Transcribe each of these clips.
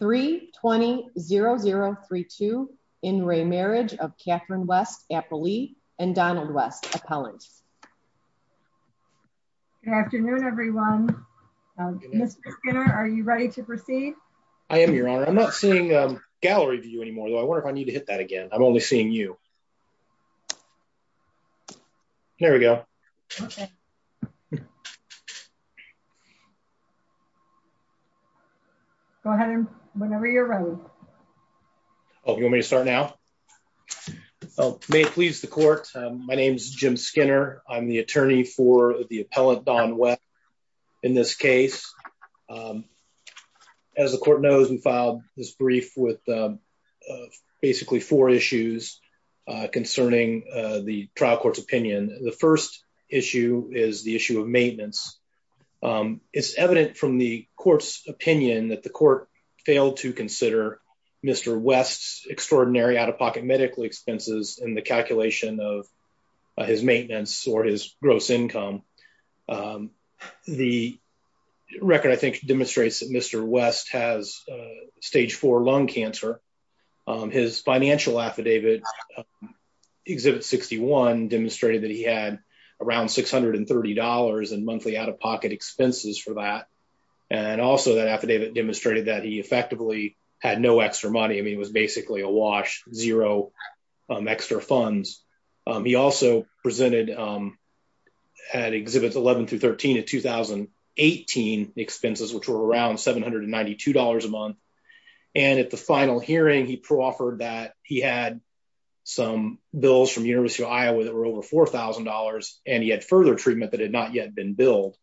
3-20-0032 in re-marriage of Katherine West-Appley and Donald West-Appellant. Good afternoon everyone. Mr. Skinner, are you ready to proceed? I am, Your Honor. I'm not seeing gallery view anymore, though I wonder if I need to hit that again. I'm only seeing you. There we go. Go ahead, whenever you're ready. Oh, you want me to start now? May it please the court. My name is Jim Skinner. I'm the attorney for the appellant, Don West, in this case. As the court knows, we filed this brief with basically four issues concerning the trial court's opinion. The first issue is the issue of maintenance. It's evident from the court's opinion that the court failed to consider Mr. West's extraordinary out-of-pocket medical expenses in the calculation of his maintenance or his gross income. The record, I think, demonstrates that Mr. West has stage four lung cancer. His financial affidavit, Exhibit 61, demonstrated that he had around $630 in monthly out-of-pocket expenses for that, and also that affidavit demonstrated that he effectively had no extra money. I mean, it was basically a wash, zero extra funds. He also presented at Exhibits 11 through 13 at 2018 expenses, which were around $792 a month, and at the final hearing, he proffered that he had some bills from University of Iowa that were over $4,000, and he had further treatment that had not yet been billed.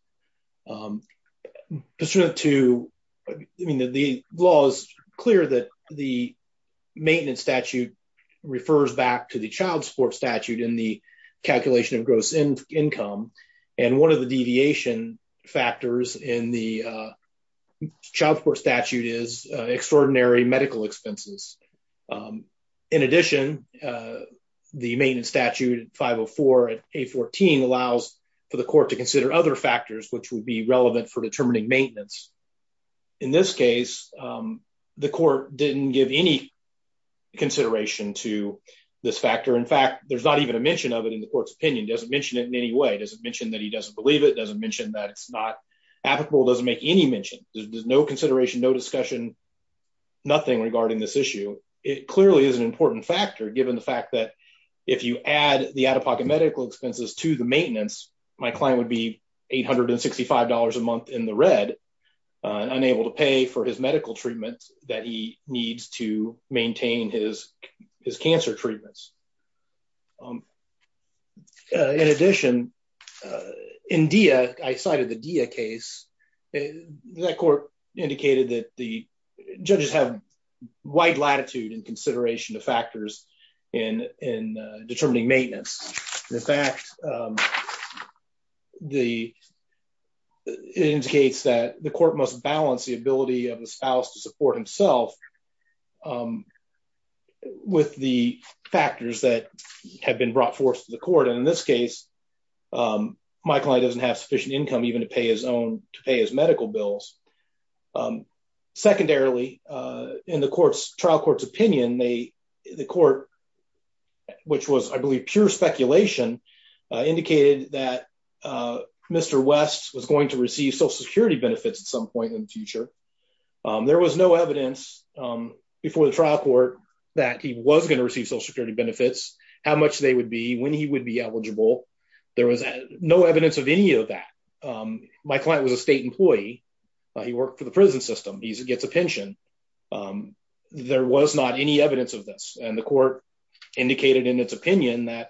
Pursuant to, I mean, the law is clear that the maintenance statute refers back to the child support statute in the calculation of gross income, and one of the deviation factors in the child support statute is extraordinary medical expenses. In addition, the maintenance statute at 504 and 814 allows for the court to consider other factors which would be relevant for determining maintenance. In this case, the court didn't give any consideration to this factor. In fact, there's not even a mention of it in the court's opinion. It doesn't mention it in any way. It doesn't mention that he doesn't believe it. It doesn't mention that it's not applicable. It doesn't make any mention. There's no consideration, no discussion, nothing regarding this issue. It clearly is an important factor given the fact that if you add the out-of-pocket medical expenses to the maintenance, my client would be $865 a month in the red, unable to pay for his medical treatment that he needs to maintain his cancer treatments. In addition, in Dia, I cited the Dia case. That court indicated that the judges have wide latitude in consideration of factors in determining maintenance. In fact, it indicates that the court must balance the ability of the spouse to support himself with the factors that have been brought forth to the court. In this case, my client doesn't have sufficient income even to pay his own medical bills. Secondarily, in the trial court's opinion, the court, which was, I believe, pure speculation, indicated that Mr. West was going to receive Social Security benefits at some point in the future. There was no evidence before the trial court that he was going to receive Social Security benefits. There was no evidence of any of that. My client was a state employee. He worked for the prison system. He gets a pension. There was not any evidence of this. The court indicated in its opinion that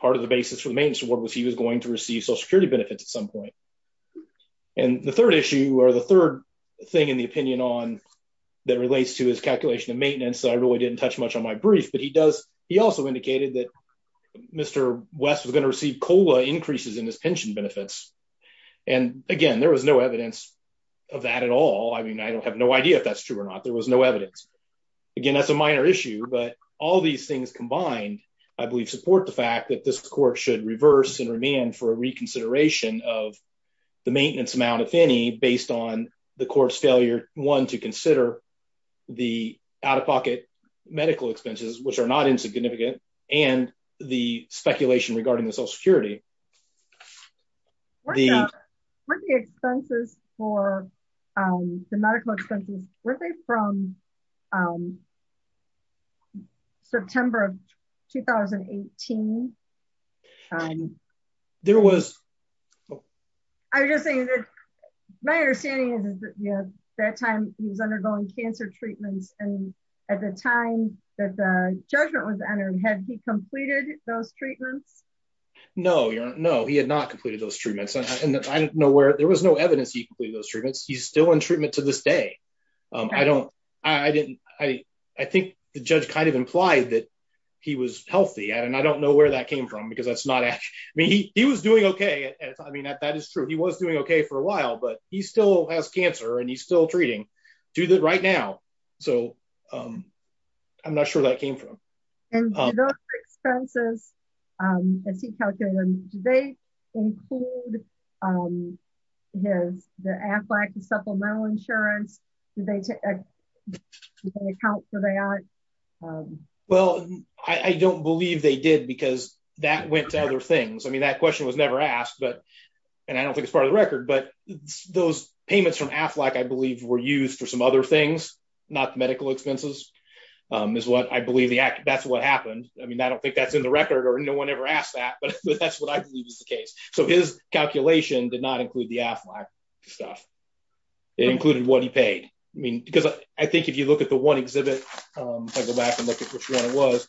part of the basis for the maintenance award was he was going to receive Social Security benefits at some point. The third issue or the third thing in the opinion that relates to his calculation of maintenance, I really didn't touch much on my brief, but he also indicated that Mr. Cola increases in his pension benefits. Again, there was no evidence of that at all. I mean, I don't have no idea if that's true or not. There was no evidence. Again, that's a minor issue, but all these things combined, I believe, support the fact that this court should reverse and remand for a reconsideration of the maintenance amount, if any, based on the court's failure, one, to consider the out-of-pocket medical expenses, which are not insignificant, and the speculation regarding the Social Security. The expenses for the medical expenses, were they from September of 2018? There was. I'm just saying that my understanding is that time he was undergoing cancer treatments and at the time that the judgment was entered, had he completed those treatments? No, he had not completed those treatments. There was no evidence he completed those treatments. He's still in treatment to this day. I think the judge kind of implied that he was healthy, and I don't know where that came from because that's not accurate. He was doing okay. I mean, that is true. He was doing okay for a while, but he still has cancer and he's still treating. Do that right now. So, I'm not sure where that came from. And those expenses, as he calculated them, do they include the AFLAC, the supplemental insurance? Well, I don't believe they did because that went to other things. I mean, that question was never asked, and I don't think it's part of the record, but those payments from AFLAC, I believe, were used for some other things, not the medical expenses. I believe that's what happened. I mean, I don't think that's in the record or no one ever asked that, but that's what I believe is the case. So, his calculation did not include the AFLAC stuff. It included what he paid. I mean, because I think if you look at the one exhibit, if I go back and look at which one it was,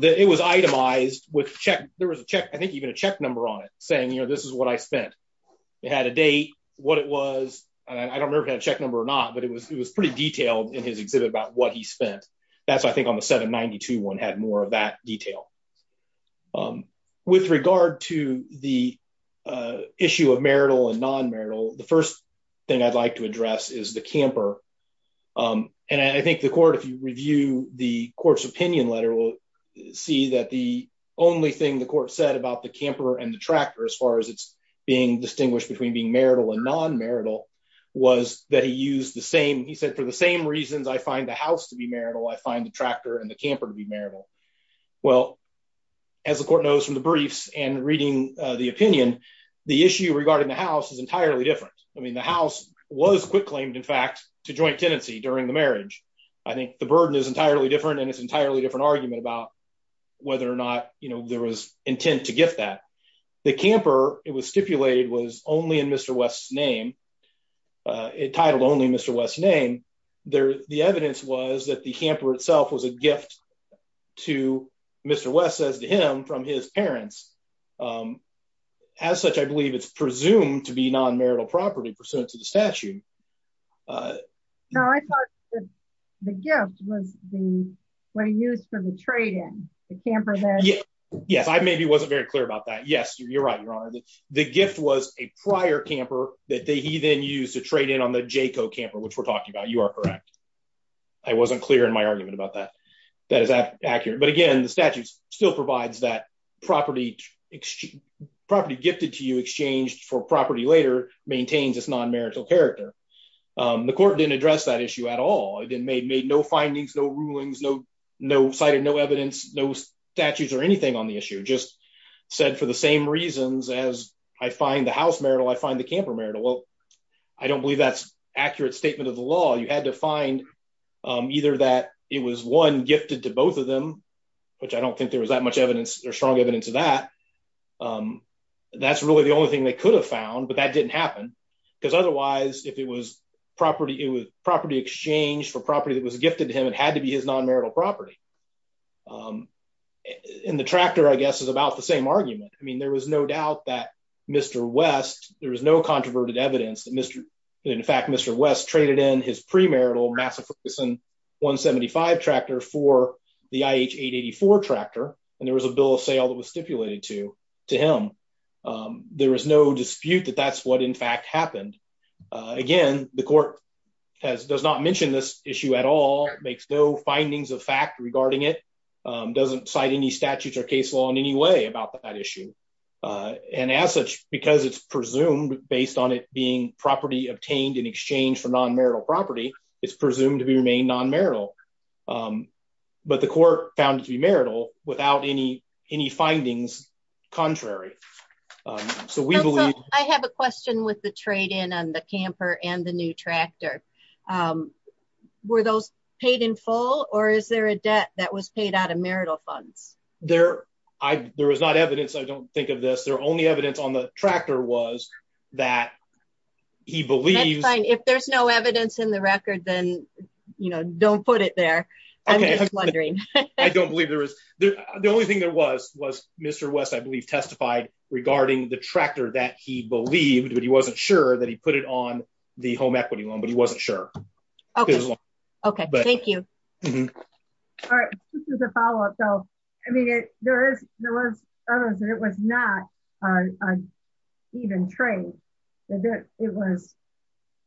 it was itemized. There was a check, I think what it was, and I don't remember if it had a check number or not, but it was pretty detailed in his exhibit about what he spent. That's why I think on the 792 one had more of that detail. With regard to the issue of marital and non-marital, the first thing I'd like to address is the camper. And I think the court, if you review the court's opinion letter, will see that the only thing the court said about the camper and the tractor, as far as it's being distinguished between being marital and non-marital, was that he used the same, he said, for the same reasons, I find the house to be marital, I find the tractor and the camper to be marital. Well, as the court knows from the briefs and reading the opinion, the issue regarding the house is entirely different. I mean, the house was quitclaimed, in fact, to joint tenancy during the marriage. I think the burden is entirely different and it's an entirely different argument about whether or not, you know, there was intent to gift that. The camper, it was stipulated, was only in Mr. West's name, entitled only Mr. West's name. The evidence was that the camper itself was a gift to Mr. West, as to him, from his parents. As such, I believe it's presumed to be non-marital property pursuant to the statute. No, I thought the gift was the, what he used for the trade-in, the camper there. Yes, I maybe wasn't very clear about that. Yes, you're right, Your Honor, the gift was a prior camper that he then used to trade in on the Jayco camper, which we're talking about, you are correct. I wasn't clear in my argument about that. That is accurate, but again, the statute still provides that property, property gifted to you, exchanged for property later, maintains its non-marital character. The court didn't address that issue at all. It didn't make, made no findings, no rulings, no, no cited, no evidence, no statutes or anything on the issue. Just said for the same reasons as I find the house marital, I find the camper marital. Well, I don't believe that's accurate statement of the law. You had to find either that it was one gifted to both of them, which I don't think there was that much evidence or strong evidence of that. Um, that's really the only thing they could have found, but that didn't happen. Because otherwise, if it was property, it was property exchanged for property that was gifted to him, it had to be his non-marital property. Um, and the tractor, I guess, is about the same argument. I mean, there was no doubt that Mr. West, there was no controverted evidence that Mr., in fact, Mr. West traded in his premarital Massachusetts 175 tractor for the IH884 tractor, and there was a bill of sale that was stipulated to, to him. Um, there was no dispute that that's what in fact happened. Uh, again, the court has, does not mention this issue at all, makes no findings of fact regarding it, um, doesn't cite any statutes or case law in any way about that issue. Uh, and as such, because it's presumed based on it being property obtained in exchange for non-marital property, it's presumed to be remained non-marital. Um, but the court found it to be marital without any, any findings contrary. Um, so we believe... I have a question with the trade-in on the camper and the new tractor. Um, were those paid in full or is there a debt that was paid out of marital funds? There, I, there was not evidence, I don't think of this, their only evidence on the tractor was that he believes... That's fine, if there's no evidence in the record, then, you know, don't put it there. I'm just wondering. I don't believe there is. The only thing there was, was Mr. West, I believe, testified regarding the tractor that he believed, but he wasn't sure that he put it on the home equity loan, but he wasn't sure. Okay. Okay. Thank you. All right. This is a follow-up though. I mean, it, there is, there was evidence that it was not, uh, even trade. It was,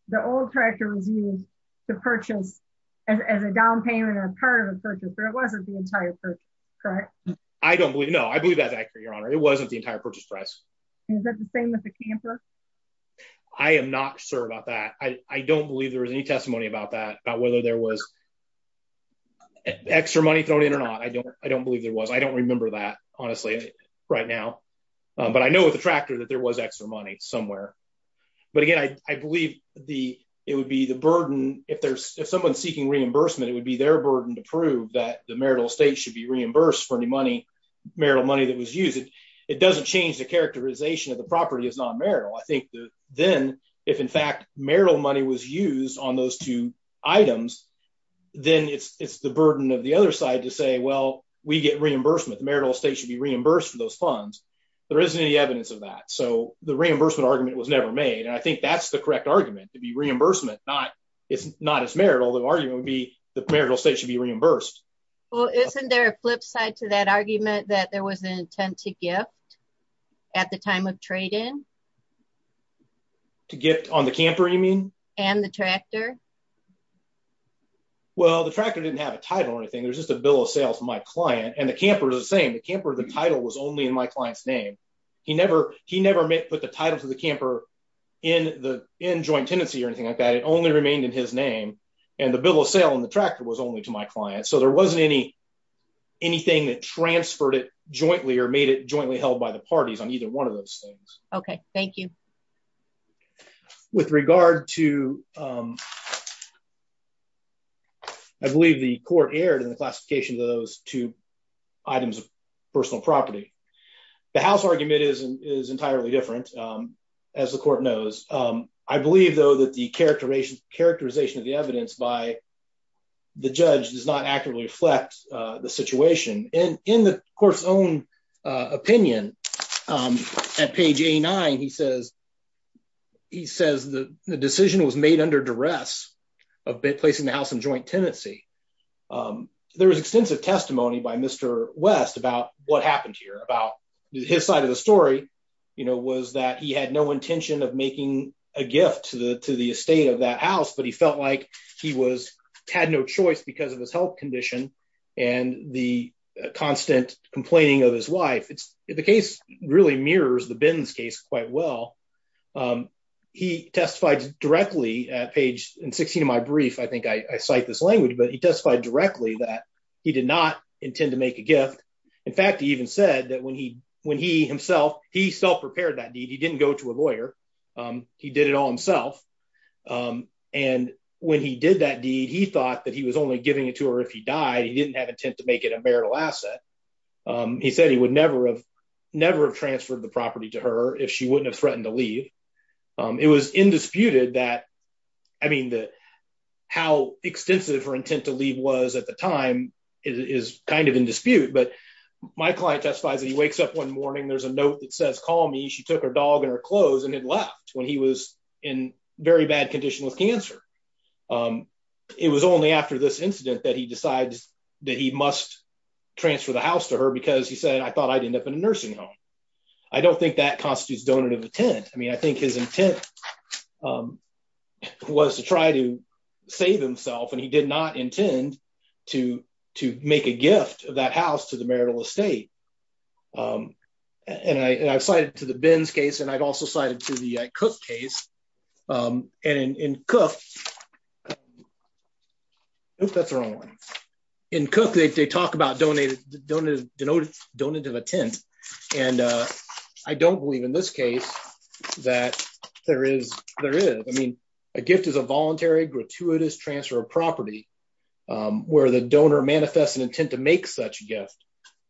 the old tractor was used to purchase as a down payment or part of a purchase, but it wasn't the entire purchase, correct? I don't believe, no, I believe that's accurate, Your Honor. It wasn't the entire purchase price. Is that the same with the camper? I am not sure about that. I don't believe there was any testimony about that, about whether there was extra money thrown in or not. I don't, I don't believe there was. I don't remember that, right now. Um, but I know with the tractor that there was extra money somewhere, but again, I, I believe the, it would be the burden if there's, if someone's seeking reimbursement, it would be their burden to prove that the marital estate should be reimbursed for any money, marital money that was used. It doesn't change the characterization of the property as non-marital. I think that then if in fact marital money was used on those two items, then it's, it's the funds. There isn't any evidence of that. So the reimbursement argument was never made. And I think that's the correct argument to be reimbursement. Not, it's not as marital, the argument would be the marital estate should be reimbursed. Well, isn't there a flip side to that argument that there was an intent to gift at the time of trade-in? To gift on the camper, you mean? And the tractor? Well, the tractor didn't have a title or anything. There's just a bill of title was only in my client's name. He never, he never put the title to the camper in the, in joint tenancy or anything like that. It only remained in his name and the bill of sale on the tractor was only to my client. So there wasn't any, anything that transferred it jointly or made it jointly held by the parties on either one of those things. Okay. Thank you. With regard to, I believe the court erred in the classification of those two items of personal property. The house argument is, is entirely different as the court knows. I believe though that the characterization of the evidence by the judge does not accurately reflect the situation. And in the court's own opinion at page A9, he says, he says the decision was made under duress of placing the house in joint tenancy. There was extensive testimony by Mr. West about what happened here, about his side of the story, you know, was that he had no intention of making a gift to the, to the estate of that house, but he felt like he was, had no choice because of his health condition and the constant complaining of his wife. It's, the case really mirrors the Binns case quite well. He testified directly at page, in 16 of my brief, I think I cite this language, but he testified directly that he did not intend to make a gift. In fact, he even said that when he, when he himself, he self-prepared that deed. He didn't go to a lawyer. He did it all himself. And when he did that deed, he thought that he was only giving it to her if he died, he didn't have intent to make it a marital asset. He said he would never have, never have transferred the property to her if she wouldn't have threatened to leave. It was indisputed that, I mean, the, how extensive her intent to leave was at the time is kind of in dispute, but my client testifies that he wakes up one morning, there's a note that says, call me. She took her dog and her clothes and had left when he was in very bad condition with cancer. It was only after this incident that he decides that he must transfer the house to her because he said, I thought I'd end up in a nursing home. I don't think that constitutes donative intent. I mean, I think his intent was to try to save himself and he did not intend to, to make a gift of that house to the marital estate. Um, and I, and I've cited to the Ben's case and I'd also cited to the Cook case, um, and in, in Cook, oop, that's the wrong one. In Cook, they talk about donated, donated, denoted donative intent. And, uh, I don't believe in this case that there is, there is, I mean, a gift is a voluntary gratuitous transfer of property, um, where the donor manifests an intent to make such a gift.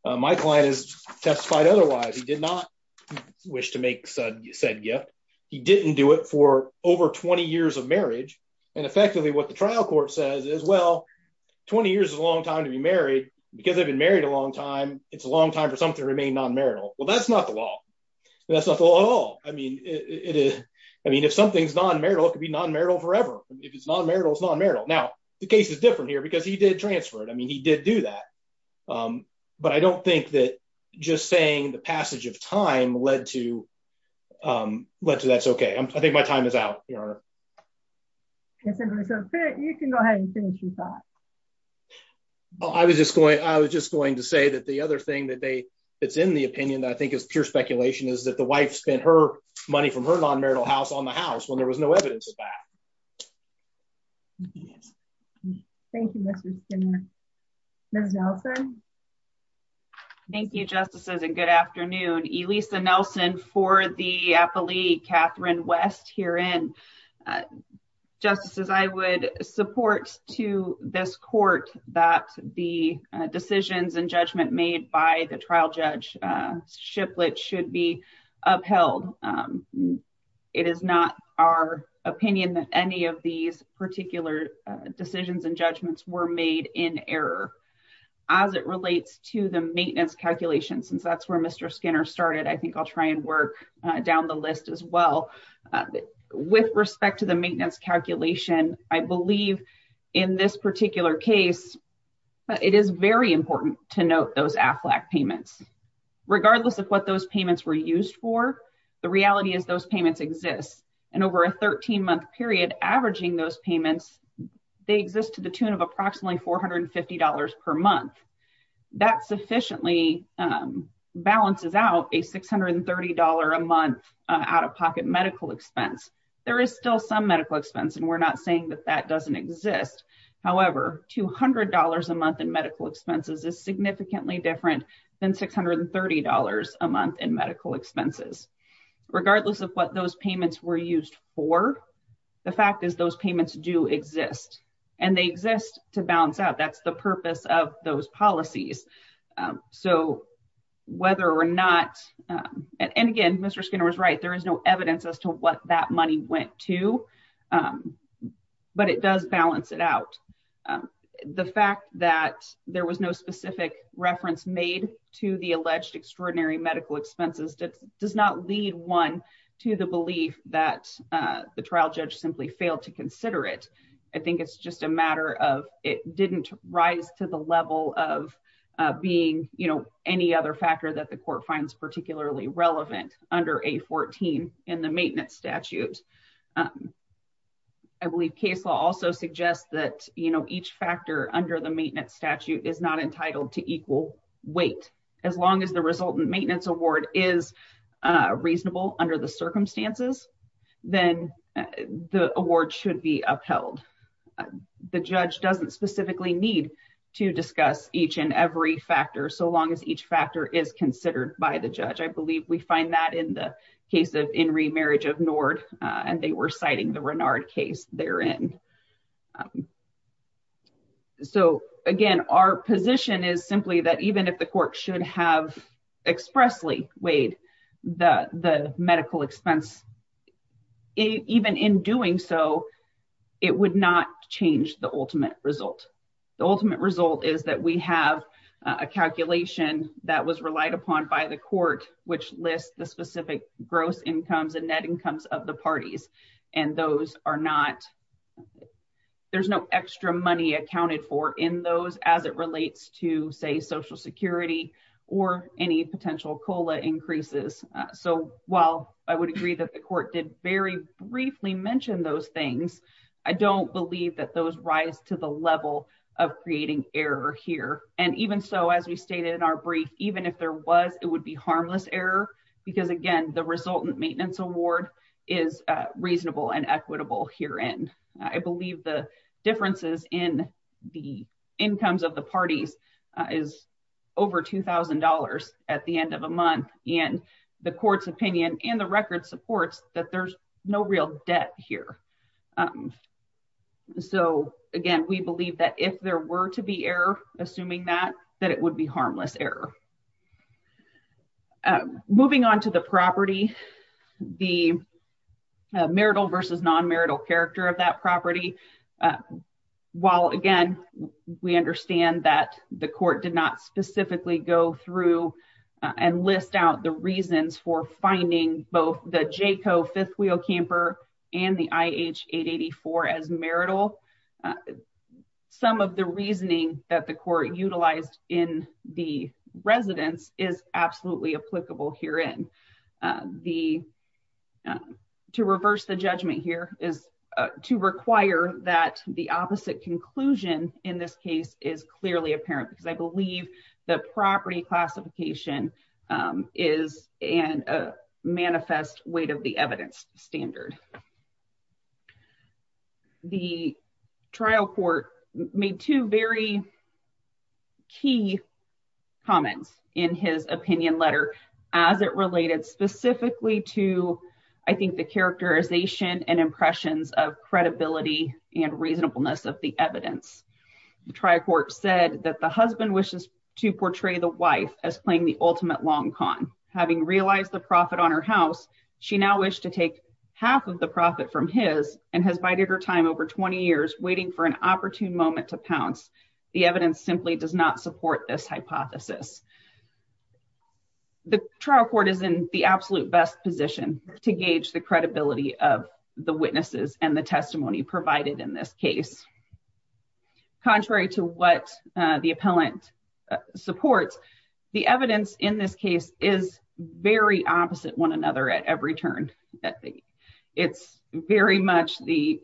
My client has testified otherwise. He did not wish to make said gift. He didn't do it for over 20 years of marriage. And effectively what the trial court says is, well, 20 years is a long time to be married because they've been married a long time. It's a long time for something to remain non-marital. Well, that's not the law. That's not the law at all. I mean, it is, I mean, if something's non-marital, it could be non-marital forever. If it's non-marital, it's non-marital. Now the case is different here because he did transfer it. I mean, he did do that. Um, but I don't think that just saying the passage of time led to, um, led to that's okay. I think my time is out, Your Honor. I was just going, I was just going to say that the other thing that they, it's in the opinion that I think is pure speculation is that the wife spent her money from her non-marital house on the house when there was no evidence of that. Thank you, Mr. Skinner. Ms. Nelson. Thank you, Justices, and good afternoon. Elisa Nelson for the appellee, Catherine West herein. Justices, I would support to this court that the decisions and judgment made by the trial judge, uh, Shiplett should be upheld. Um, it is not our opinion that any of these particular, uh, decisions and judgments were made in error. As it relates to the maintenance calculation, since that's where Mr. Skinner started, I think I'll try and work, uh, down the list as well. Uh, with respect to the maintenance calculation, I believe in this particular case, it is very important to note those AFLAC payments. Regardless of what those AFLAC payments were used for, the fact that they were used to, um, balance out a $630 a month out-of-pocket medical expense. There is still some medical expense, and we're not saying that that doesn't exist. However, $200 a month in medical expenses is significantly different than $630 a month in medical expenses. Regardless of what those payments were used for, the fact is those payments do exist, and they exist to balance out. That's the purpose of those policies. Um, so whether or not, um, and again, Mr. Skinner was right. There is no evidence as to what that money went to, um, but it does balance it out. Um, the fact that there was no specific reference made to the alleged extraordinary medical expenses does not lead, one, to the fail to consider it. I think it's just a matter of it didn't rise to the level of, uh, being, you know, any other factor that the court finds particularly relevant under A14 in the maintenance statute. Um, I believe case law also suggests that, you know, each factor under the maintenance statute is not entitled to equal weight. As long as the resultant maintenance award is, uh, the award should be upheld. Uh, the judge doesn't specifically need to discuss each and every factor so long as each factor is considered by the judge. I believe we find that in the case of in remarriage of Nord, uh, and they were citing the Renard case therein. Um, so again, our position is simply that even if the court should have expressly weighed the, the medical expense, even in doing so, it would not change the ultimate result. The ultimate result is that we have a calculation that was relied upon by the court, which lists the specific gross incomes and net incomes of the parties. And those are not, there's no extra money accounted for in those as it relates to say, social security or any potential COLA increases. So while I would agree that the court did very briefly mentioned those things, I don't believe that those rise to the level of creating error here. And even so, as we stated in our brief, even if there was, it would be harmless error because again, the resultant maintenance award is reasonable and equitable here. And I believe the differences in the incomes of the parties is over $2,000 at the end of a month and the court's opinion and the record supports that there's no real debt here. Um, so again, we believe that if there were to be error, assuming that, that it would be harmless error. Um, moving on to the property, the marital versus non-marital character of that property. Uh, while again, we understand that the court did not specifically go through and list out the reasons for finding both the Jayco fifth wheel camper and the IH884 as marital. Some of the reasoning that the court utilized in the residence is absolutely applicable here in the, uh, to reverse the judgment here is, uh, to require that the opposite conclusion in this case is clearly apparent because I believe the property classification, um, is in a manifest weight of the evidence standard. The trial court made two very key comments in his opinion letter as it related specifically to, I think the characterization and impressions of credibility and reasonableness of the evidence. The trial court said that the husband wishes to portray the wife as playing the ultimate long con having realized the profit on her house. She now wished to take half of the profit from his and has bided her time over 20 years waiting for an opportune moment to pounce. The evidence simply does not support this hypothesis. The trial court is in the absolute best position to gauge the credibility of the witnesses and the testimony provided in this case. Contrary to what the appellant supports, the evidence in this case is very opposite one another at every turn. It's very much the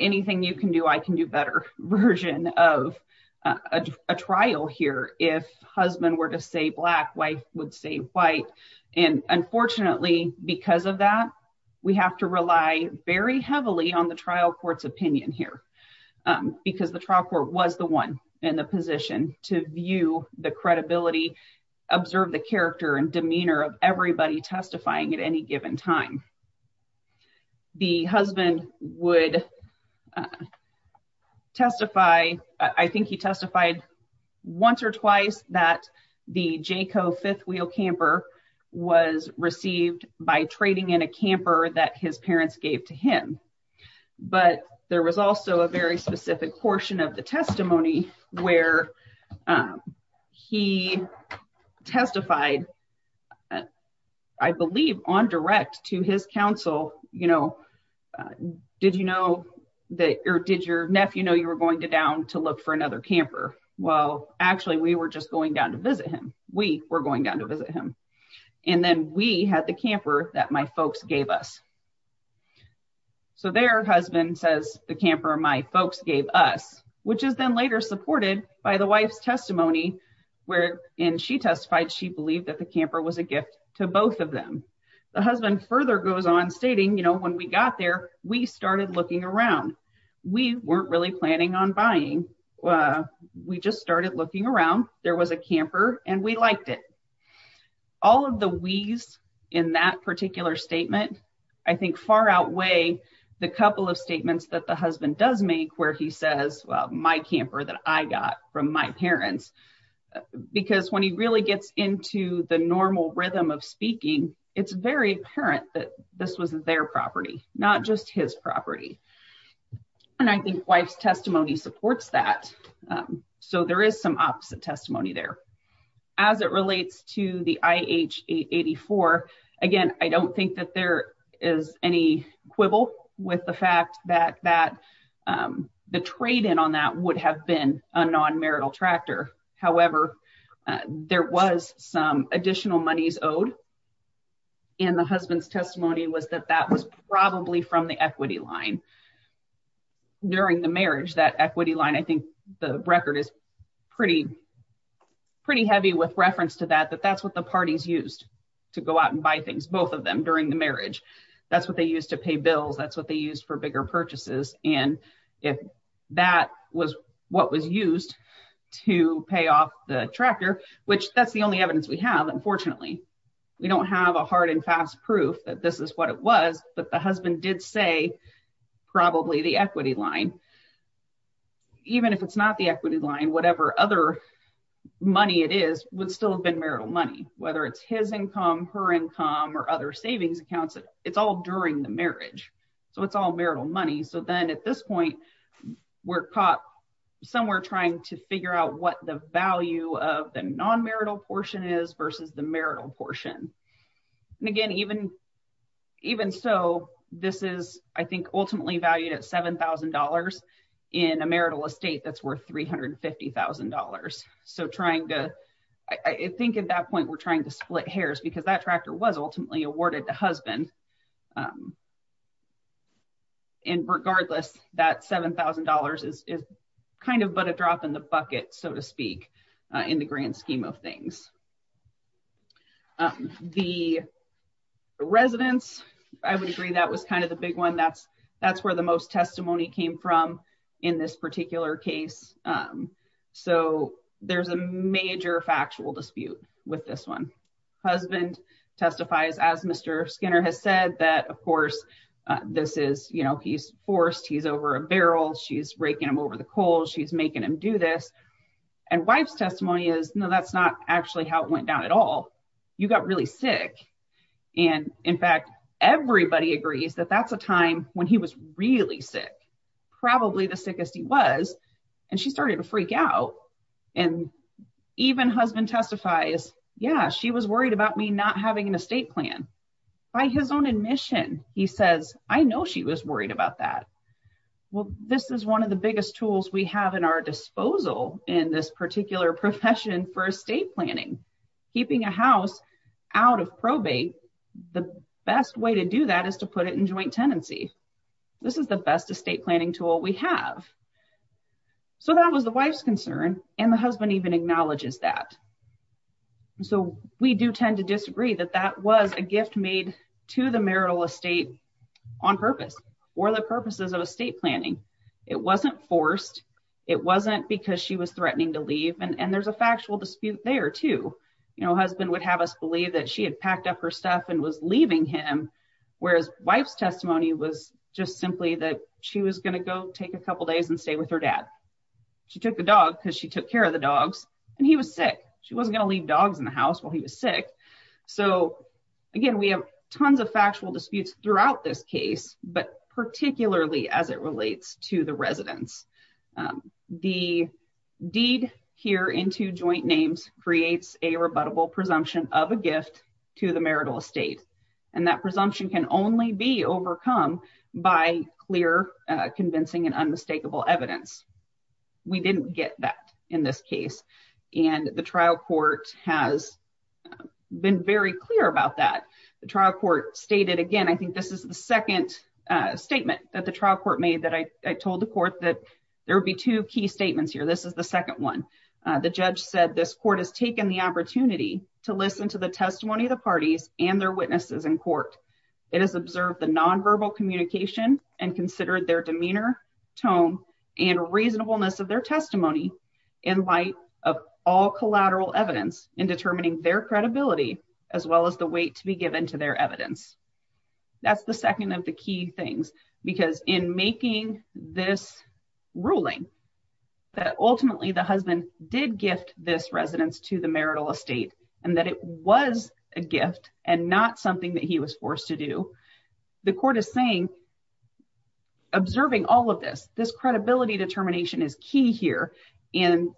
anything you can do, I can do better version of a trial here. If husband were to say black wife would say white. And unfortunately, because of that, we have to rely very heavily on the trial court's opinion here. Um, because the trial court was the one in the position to view the credibility, observe the character and demeanor of everybody testifying at any given time. The husband would testify, I think he testified once or twice that the Jayco fifth wheel camper was received by trading in a camper that his parents gave to him. But there was also a very specific portion of the testimony where he testified, I believe on direct to his counsel, you know, did you know, that or did your nephew know you were going to down to look for another camper? Well, actually, we were just going down to visit him. We were going down to visit him. And then we had the camper that my folks gave us. So their husband says the camper my folks gave us, which is then later supported by the wife's testimony, where in she testified, she believed that the camper was a gift to both of them. The husband further goes on stating, you know, when we got there, we started looking around, we weren't really planning on buying, we just started looking around, there was a camper and we liked it. All of the wheeze in that particular statement, I think far outweigh the couple of statements that the husband does make where he says, well, my camper that I got from my parents, because when he really gets into the normal rhythm of speaking, it's very apparent that this was their property, not just his property. And I think wife's testimony supports that. So there is some opposite testimony there. As it relates to the IH 884. Again, I don't think that there is any quibble with the fact that that the trade in on that would have been a non marital tractor. However, there was some additional monies owed. And the husband's testimony was that that was probably from the equity line. During the marriage, that equity line, I think the record is pretty, pretty heavy with reference to that, that that's what the parties used to go out and buy things, both of them during the marriage. That's what they used to pay bills. That's what they used for bigger purchases. And if that was what was used to pay off the tractor, which that's the only evidence we have, unfortunately, we don't have a hard and fast proof that this is what it was. But the husband did say, probably the equity line. Even if it's not the equity line, whatever other money it is, would still have been marital money, whether it's his income, her income, or other money. So then at this point, we're caught somewhere trying to figure out what the value of the non marital portion is versus the marital portion. And again, even, even so, this is, I think, ultimately valued at $7,000 in a marital estate that's worth $350,000. So trying to, I think at that point, we're trying to split hairs because that tractor was ultimately awarded to husband. And regardless, that $7,000 is kind of but a drop in the bucket, so to speak, in the grand scheme of things. The residence, I would agree that was kind of the big one. That's, that's where the most testimony came from in this particular case. So there's a major factual dispute with this one. Husband testifies, as Mr. Skinner has said that, of course, this is, you know, he's forced, he's over a barrel, she's raking him over the cold, she's making him do this. And wife's testimony is no, that's not actually how it went down at all. You got really sick. And in fact, everybody agrees that that's a time when he was really sick, probably the sickest he was. And she started to freak out. And even husband testifies, yeah, she was worried about me not having an estate plan. By his own admission, he says, I know she was worried about that. Well, this is one of the biggest tools we have in our disposal in this particular profession for estate planning, keeping a house out of probate. The best way to do that is to put it in joint tenancy. This is the best estate planning tool we have. So that was the wife's concern. And the husband even acknowledges that. So we do tend to disagree that that was a gift made to the marital estate on purpose, or the purposes of estate planning. It wasn't forced. It wasn't because she was threatening to leave. And there's a factual dispute there too. You know, husband would have us believe that she had packed up her stuff and was leaving him. Whereas wife's testimony was just simply that she was going to go take a couple of days and stay with her dad. She took the dog because she took care of the dogs, and he was sick. She wasn't going to leave dogs in the house while he was sick. So again, we have tons of factual disputes throughout this case, but particularly as it relates to the residence. The deed here into joint names creates a rebuttable presumption of a gift to the marital estate. And that presumption can only be overcome by clear, convincing, and unmistakable evidence. We didn't get that in this case. And the trial court has been very clear about that. The trial court stated again, I think this is the second statement that the trial court made that I told the court that there would be two key statements here. This is the second one. The judge said this court has taken the opportunity to listen to the testimony of the parties and their witnesses in court. It has observed the nonverbal communication and considered their demeanor, tone, and reasonableness of their testimony in light of all collateral evidence in determining their credibility, as well as the weight to be given to their evidence. That's the second of the key things, because in making this ruling that ultimately the husband did gift this residence to the marital estate, and that it was a gift and not something that he was forced to do. The court is saying, observing all of this, this credibility determination is key here. And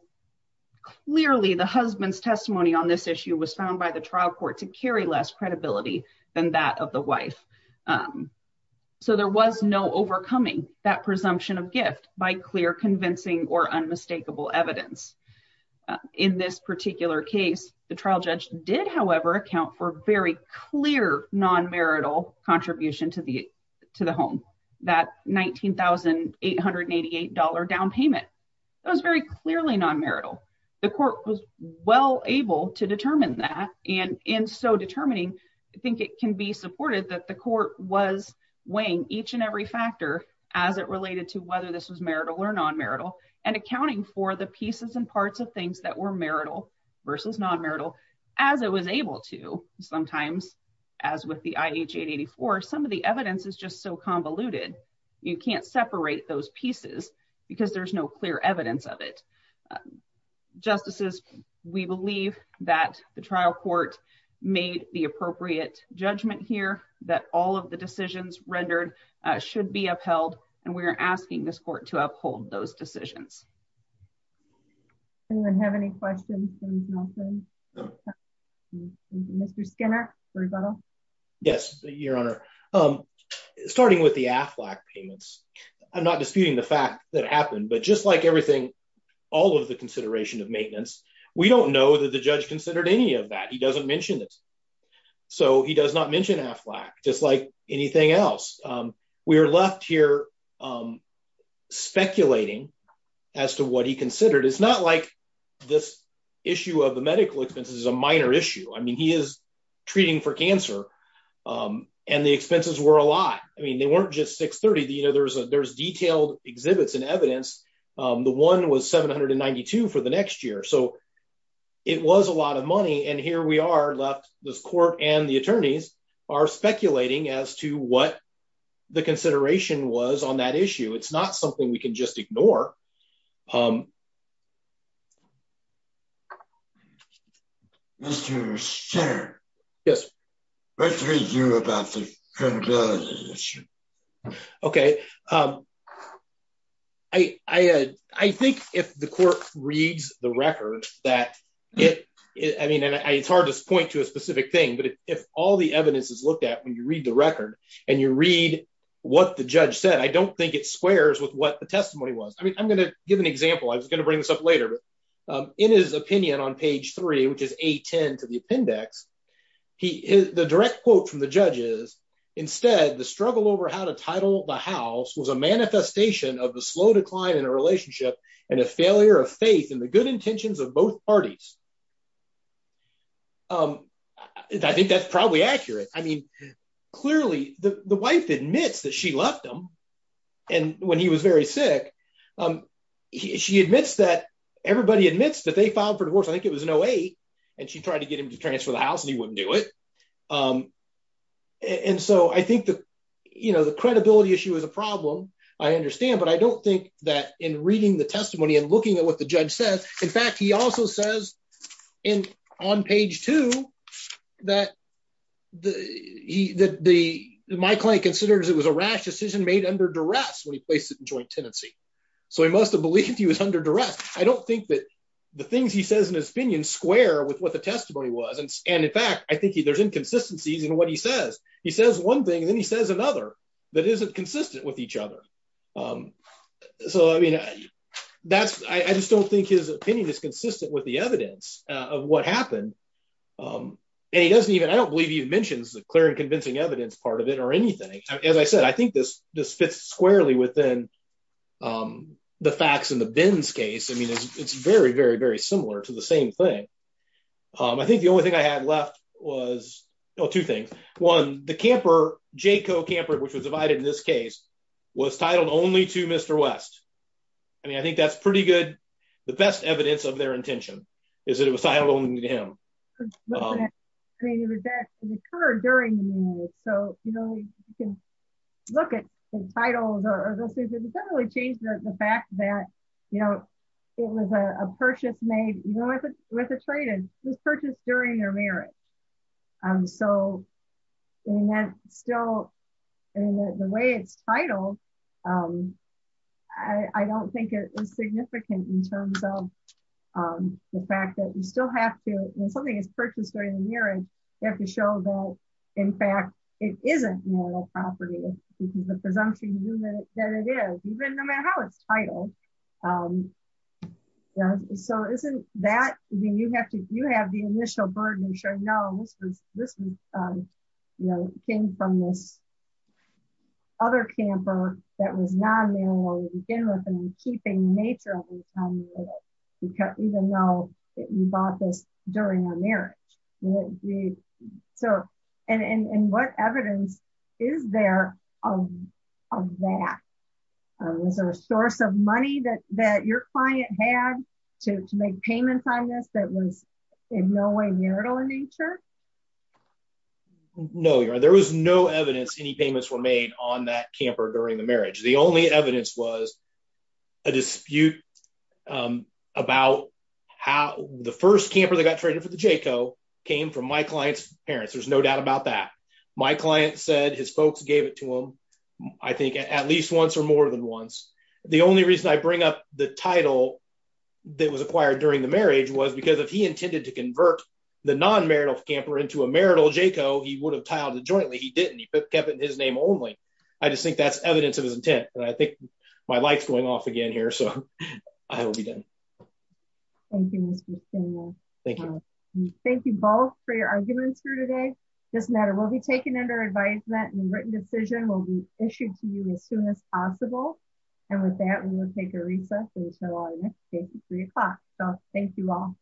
clearly the husband's testimony on this issue was found by the trial court to carry less credibility than that of the wife. So there was no overcoming that presumption of gift by clear convincing or unmistakable evidence. In this particular case, the trial judge did, however, account for very clear non-marital contribution to the home. That $19,888 down payment, it was very clearly non-marital. The court was well able to determine that. And in so determining, I think it can be supported that the court was weighing each and every factor as it related to whether this was marital or non-marital and accounting for the pieces and parts of things that were marital versus non-marital as it was able to. Sometimes, as with the IH-884, some of the evidence is just so convoluted. You can't separate those pieces because there's no clear evidence of it. Justices, we believe that the trial court made the appropriate judgment here, that all of the decisions rendered should be upheld, and we are asking this court to uphold those decisions. Anyone have any questions? Mr. Skinner. Yes, Your Honor. Starting with the AFLAC payments, I'm not disputing the fact that happened, but just like everything, all of the consideration of maintenance, we don't know that the judge considered any of that. He doesn't mention it. So he does not mention AFLAC, just like anything else. We are left here speculating as to what he considered. It's not like this issue of the medical expenses is a minor issue. I mean, he is treating for cancer, and the expenses were a lot. I mean, they weren't just $630,000. There's detailed exhibits and evidence. The one was $792,000 for the next year. So it was a lot of money, and here we are left, this court and the attorneys are speculating as to what the consideration was on that issue. It's not something we can just ignore. Mr. Skinner. Yes. What do you think about the credibility issue? Okay. I think if the court reads the record that it, I mean, it's hard to point to a specific thing, but if all the evidence is looked at when you read the record, and you read what the judge said, I don't think it squares with what the testimony was. I mean, I'm going to give an example. I was going to bring this up later, but in his opinion on page three, which is A10 to the appendix, the direct quote from the judge is, instead, the struggle over how to title the house was a manifestation of the slow decline in a relationship and a failure of faith in the good intentions of both parties. I think that's probably accurate. I mean, clearly the wife admits that she left him when he was very sick. She admits that everybody admits that they filed for divorce. I think it was an OA, and she tried to get him to transfer the house, and he wouldn't do it. And so I think the credibility issue is a problem, I understand, but I don't think that in reading the testimony and looking at what the judge says, in fact, he also says on page two that my client considers it was a rash decision made under duress when he placed it in joint tenancy. So he must have believed he was under duress. I don't think that the things he says in his opinion square with what the testimony was, and in fact, I think there's inconsistencies in what he says. He says one thing, and then he says another that isn't consistent with each other. So I mean, I just don't think his opinion is consistent with the evidence of what happened, and he doesn't even, I don't believe he mentions the clear and convincing evidence part of it or anything. As I said, I think this fits squarely within the facts in the Benz case. I mean, it's very, very, very similar to the same thing. I think the only thing I had left was two things. One, the camper, Jayco Camper, which was divided in this case, was titled only to Mr. West. I mean, I think that's pretty good, the best evidence of their intention is that it was titled only to him. I mean, that occurred during the marriage. So, you know, you can look at the titles or those things. It doesn't really change the fact that, you know, it was a purchase made, you know, with a trade, it was purchased during their marriage. So, I mean, that's still, I mean, the way it's titled, I don't think it is significant in terms of the fact that you still have to, when something is purchased during the marriage, you have to show though, in fact, it isn't marital property, because the presumption that it is, even no matter how it's titled. So, isn't that, I mean, you have to, you have the initial burden of showing, no, this was, you know, came from this other camper that was non-marital to begin with and keeping the nature of it, even though you bought this during a marriage. So, and what evidence is there of that? Was there a source of money that your client had to make payments on this that was in no way marital in nature? No, there was no evidence any payments were made on that camper during the marriage. The only evidence was a dispute about how the first camper that got traded for the Jayco came from my client's parents. There's no doubt about that. My client said his folks gave it to him, I think, at least once or more than once. The only reason I bring up the title that was acquired during the marriage was because if he intended to convert the non-marital camper into a marital Jayco, he would have titled it jointly. He didn't. He kept it in his name only. I just think that's evidence of his intent. And I think my light's going off again here, so I will be done. Thank you, Mr. Stainwell. Thank you. Thank you both for your arguments here today. Doesn't matter, we'll be taking under advisement and a written decision will be issued to you as soon as possible. And with that, we will take a recess until our next meeting at three o'clock. So, thank you all.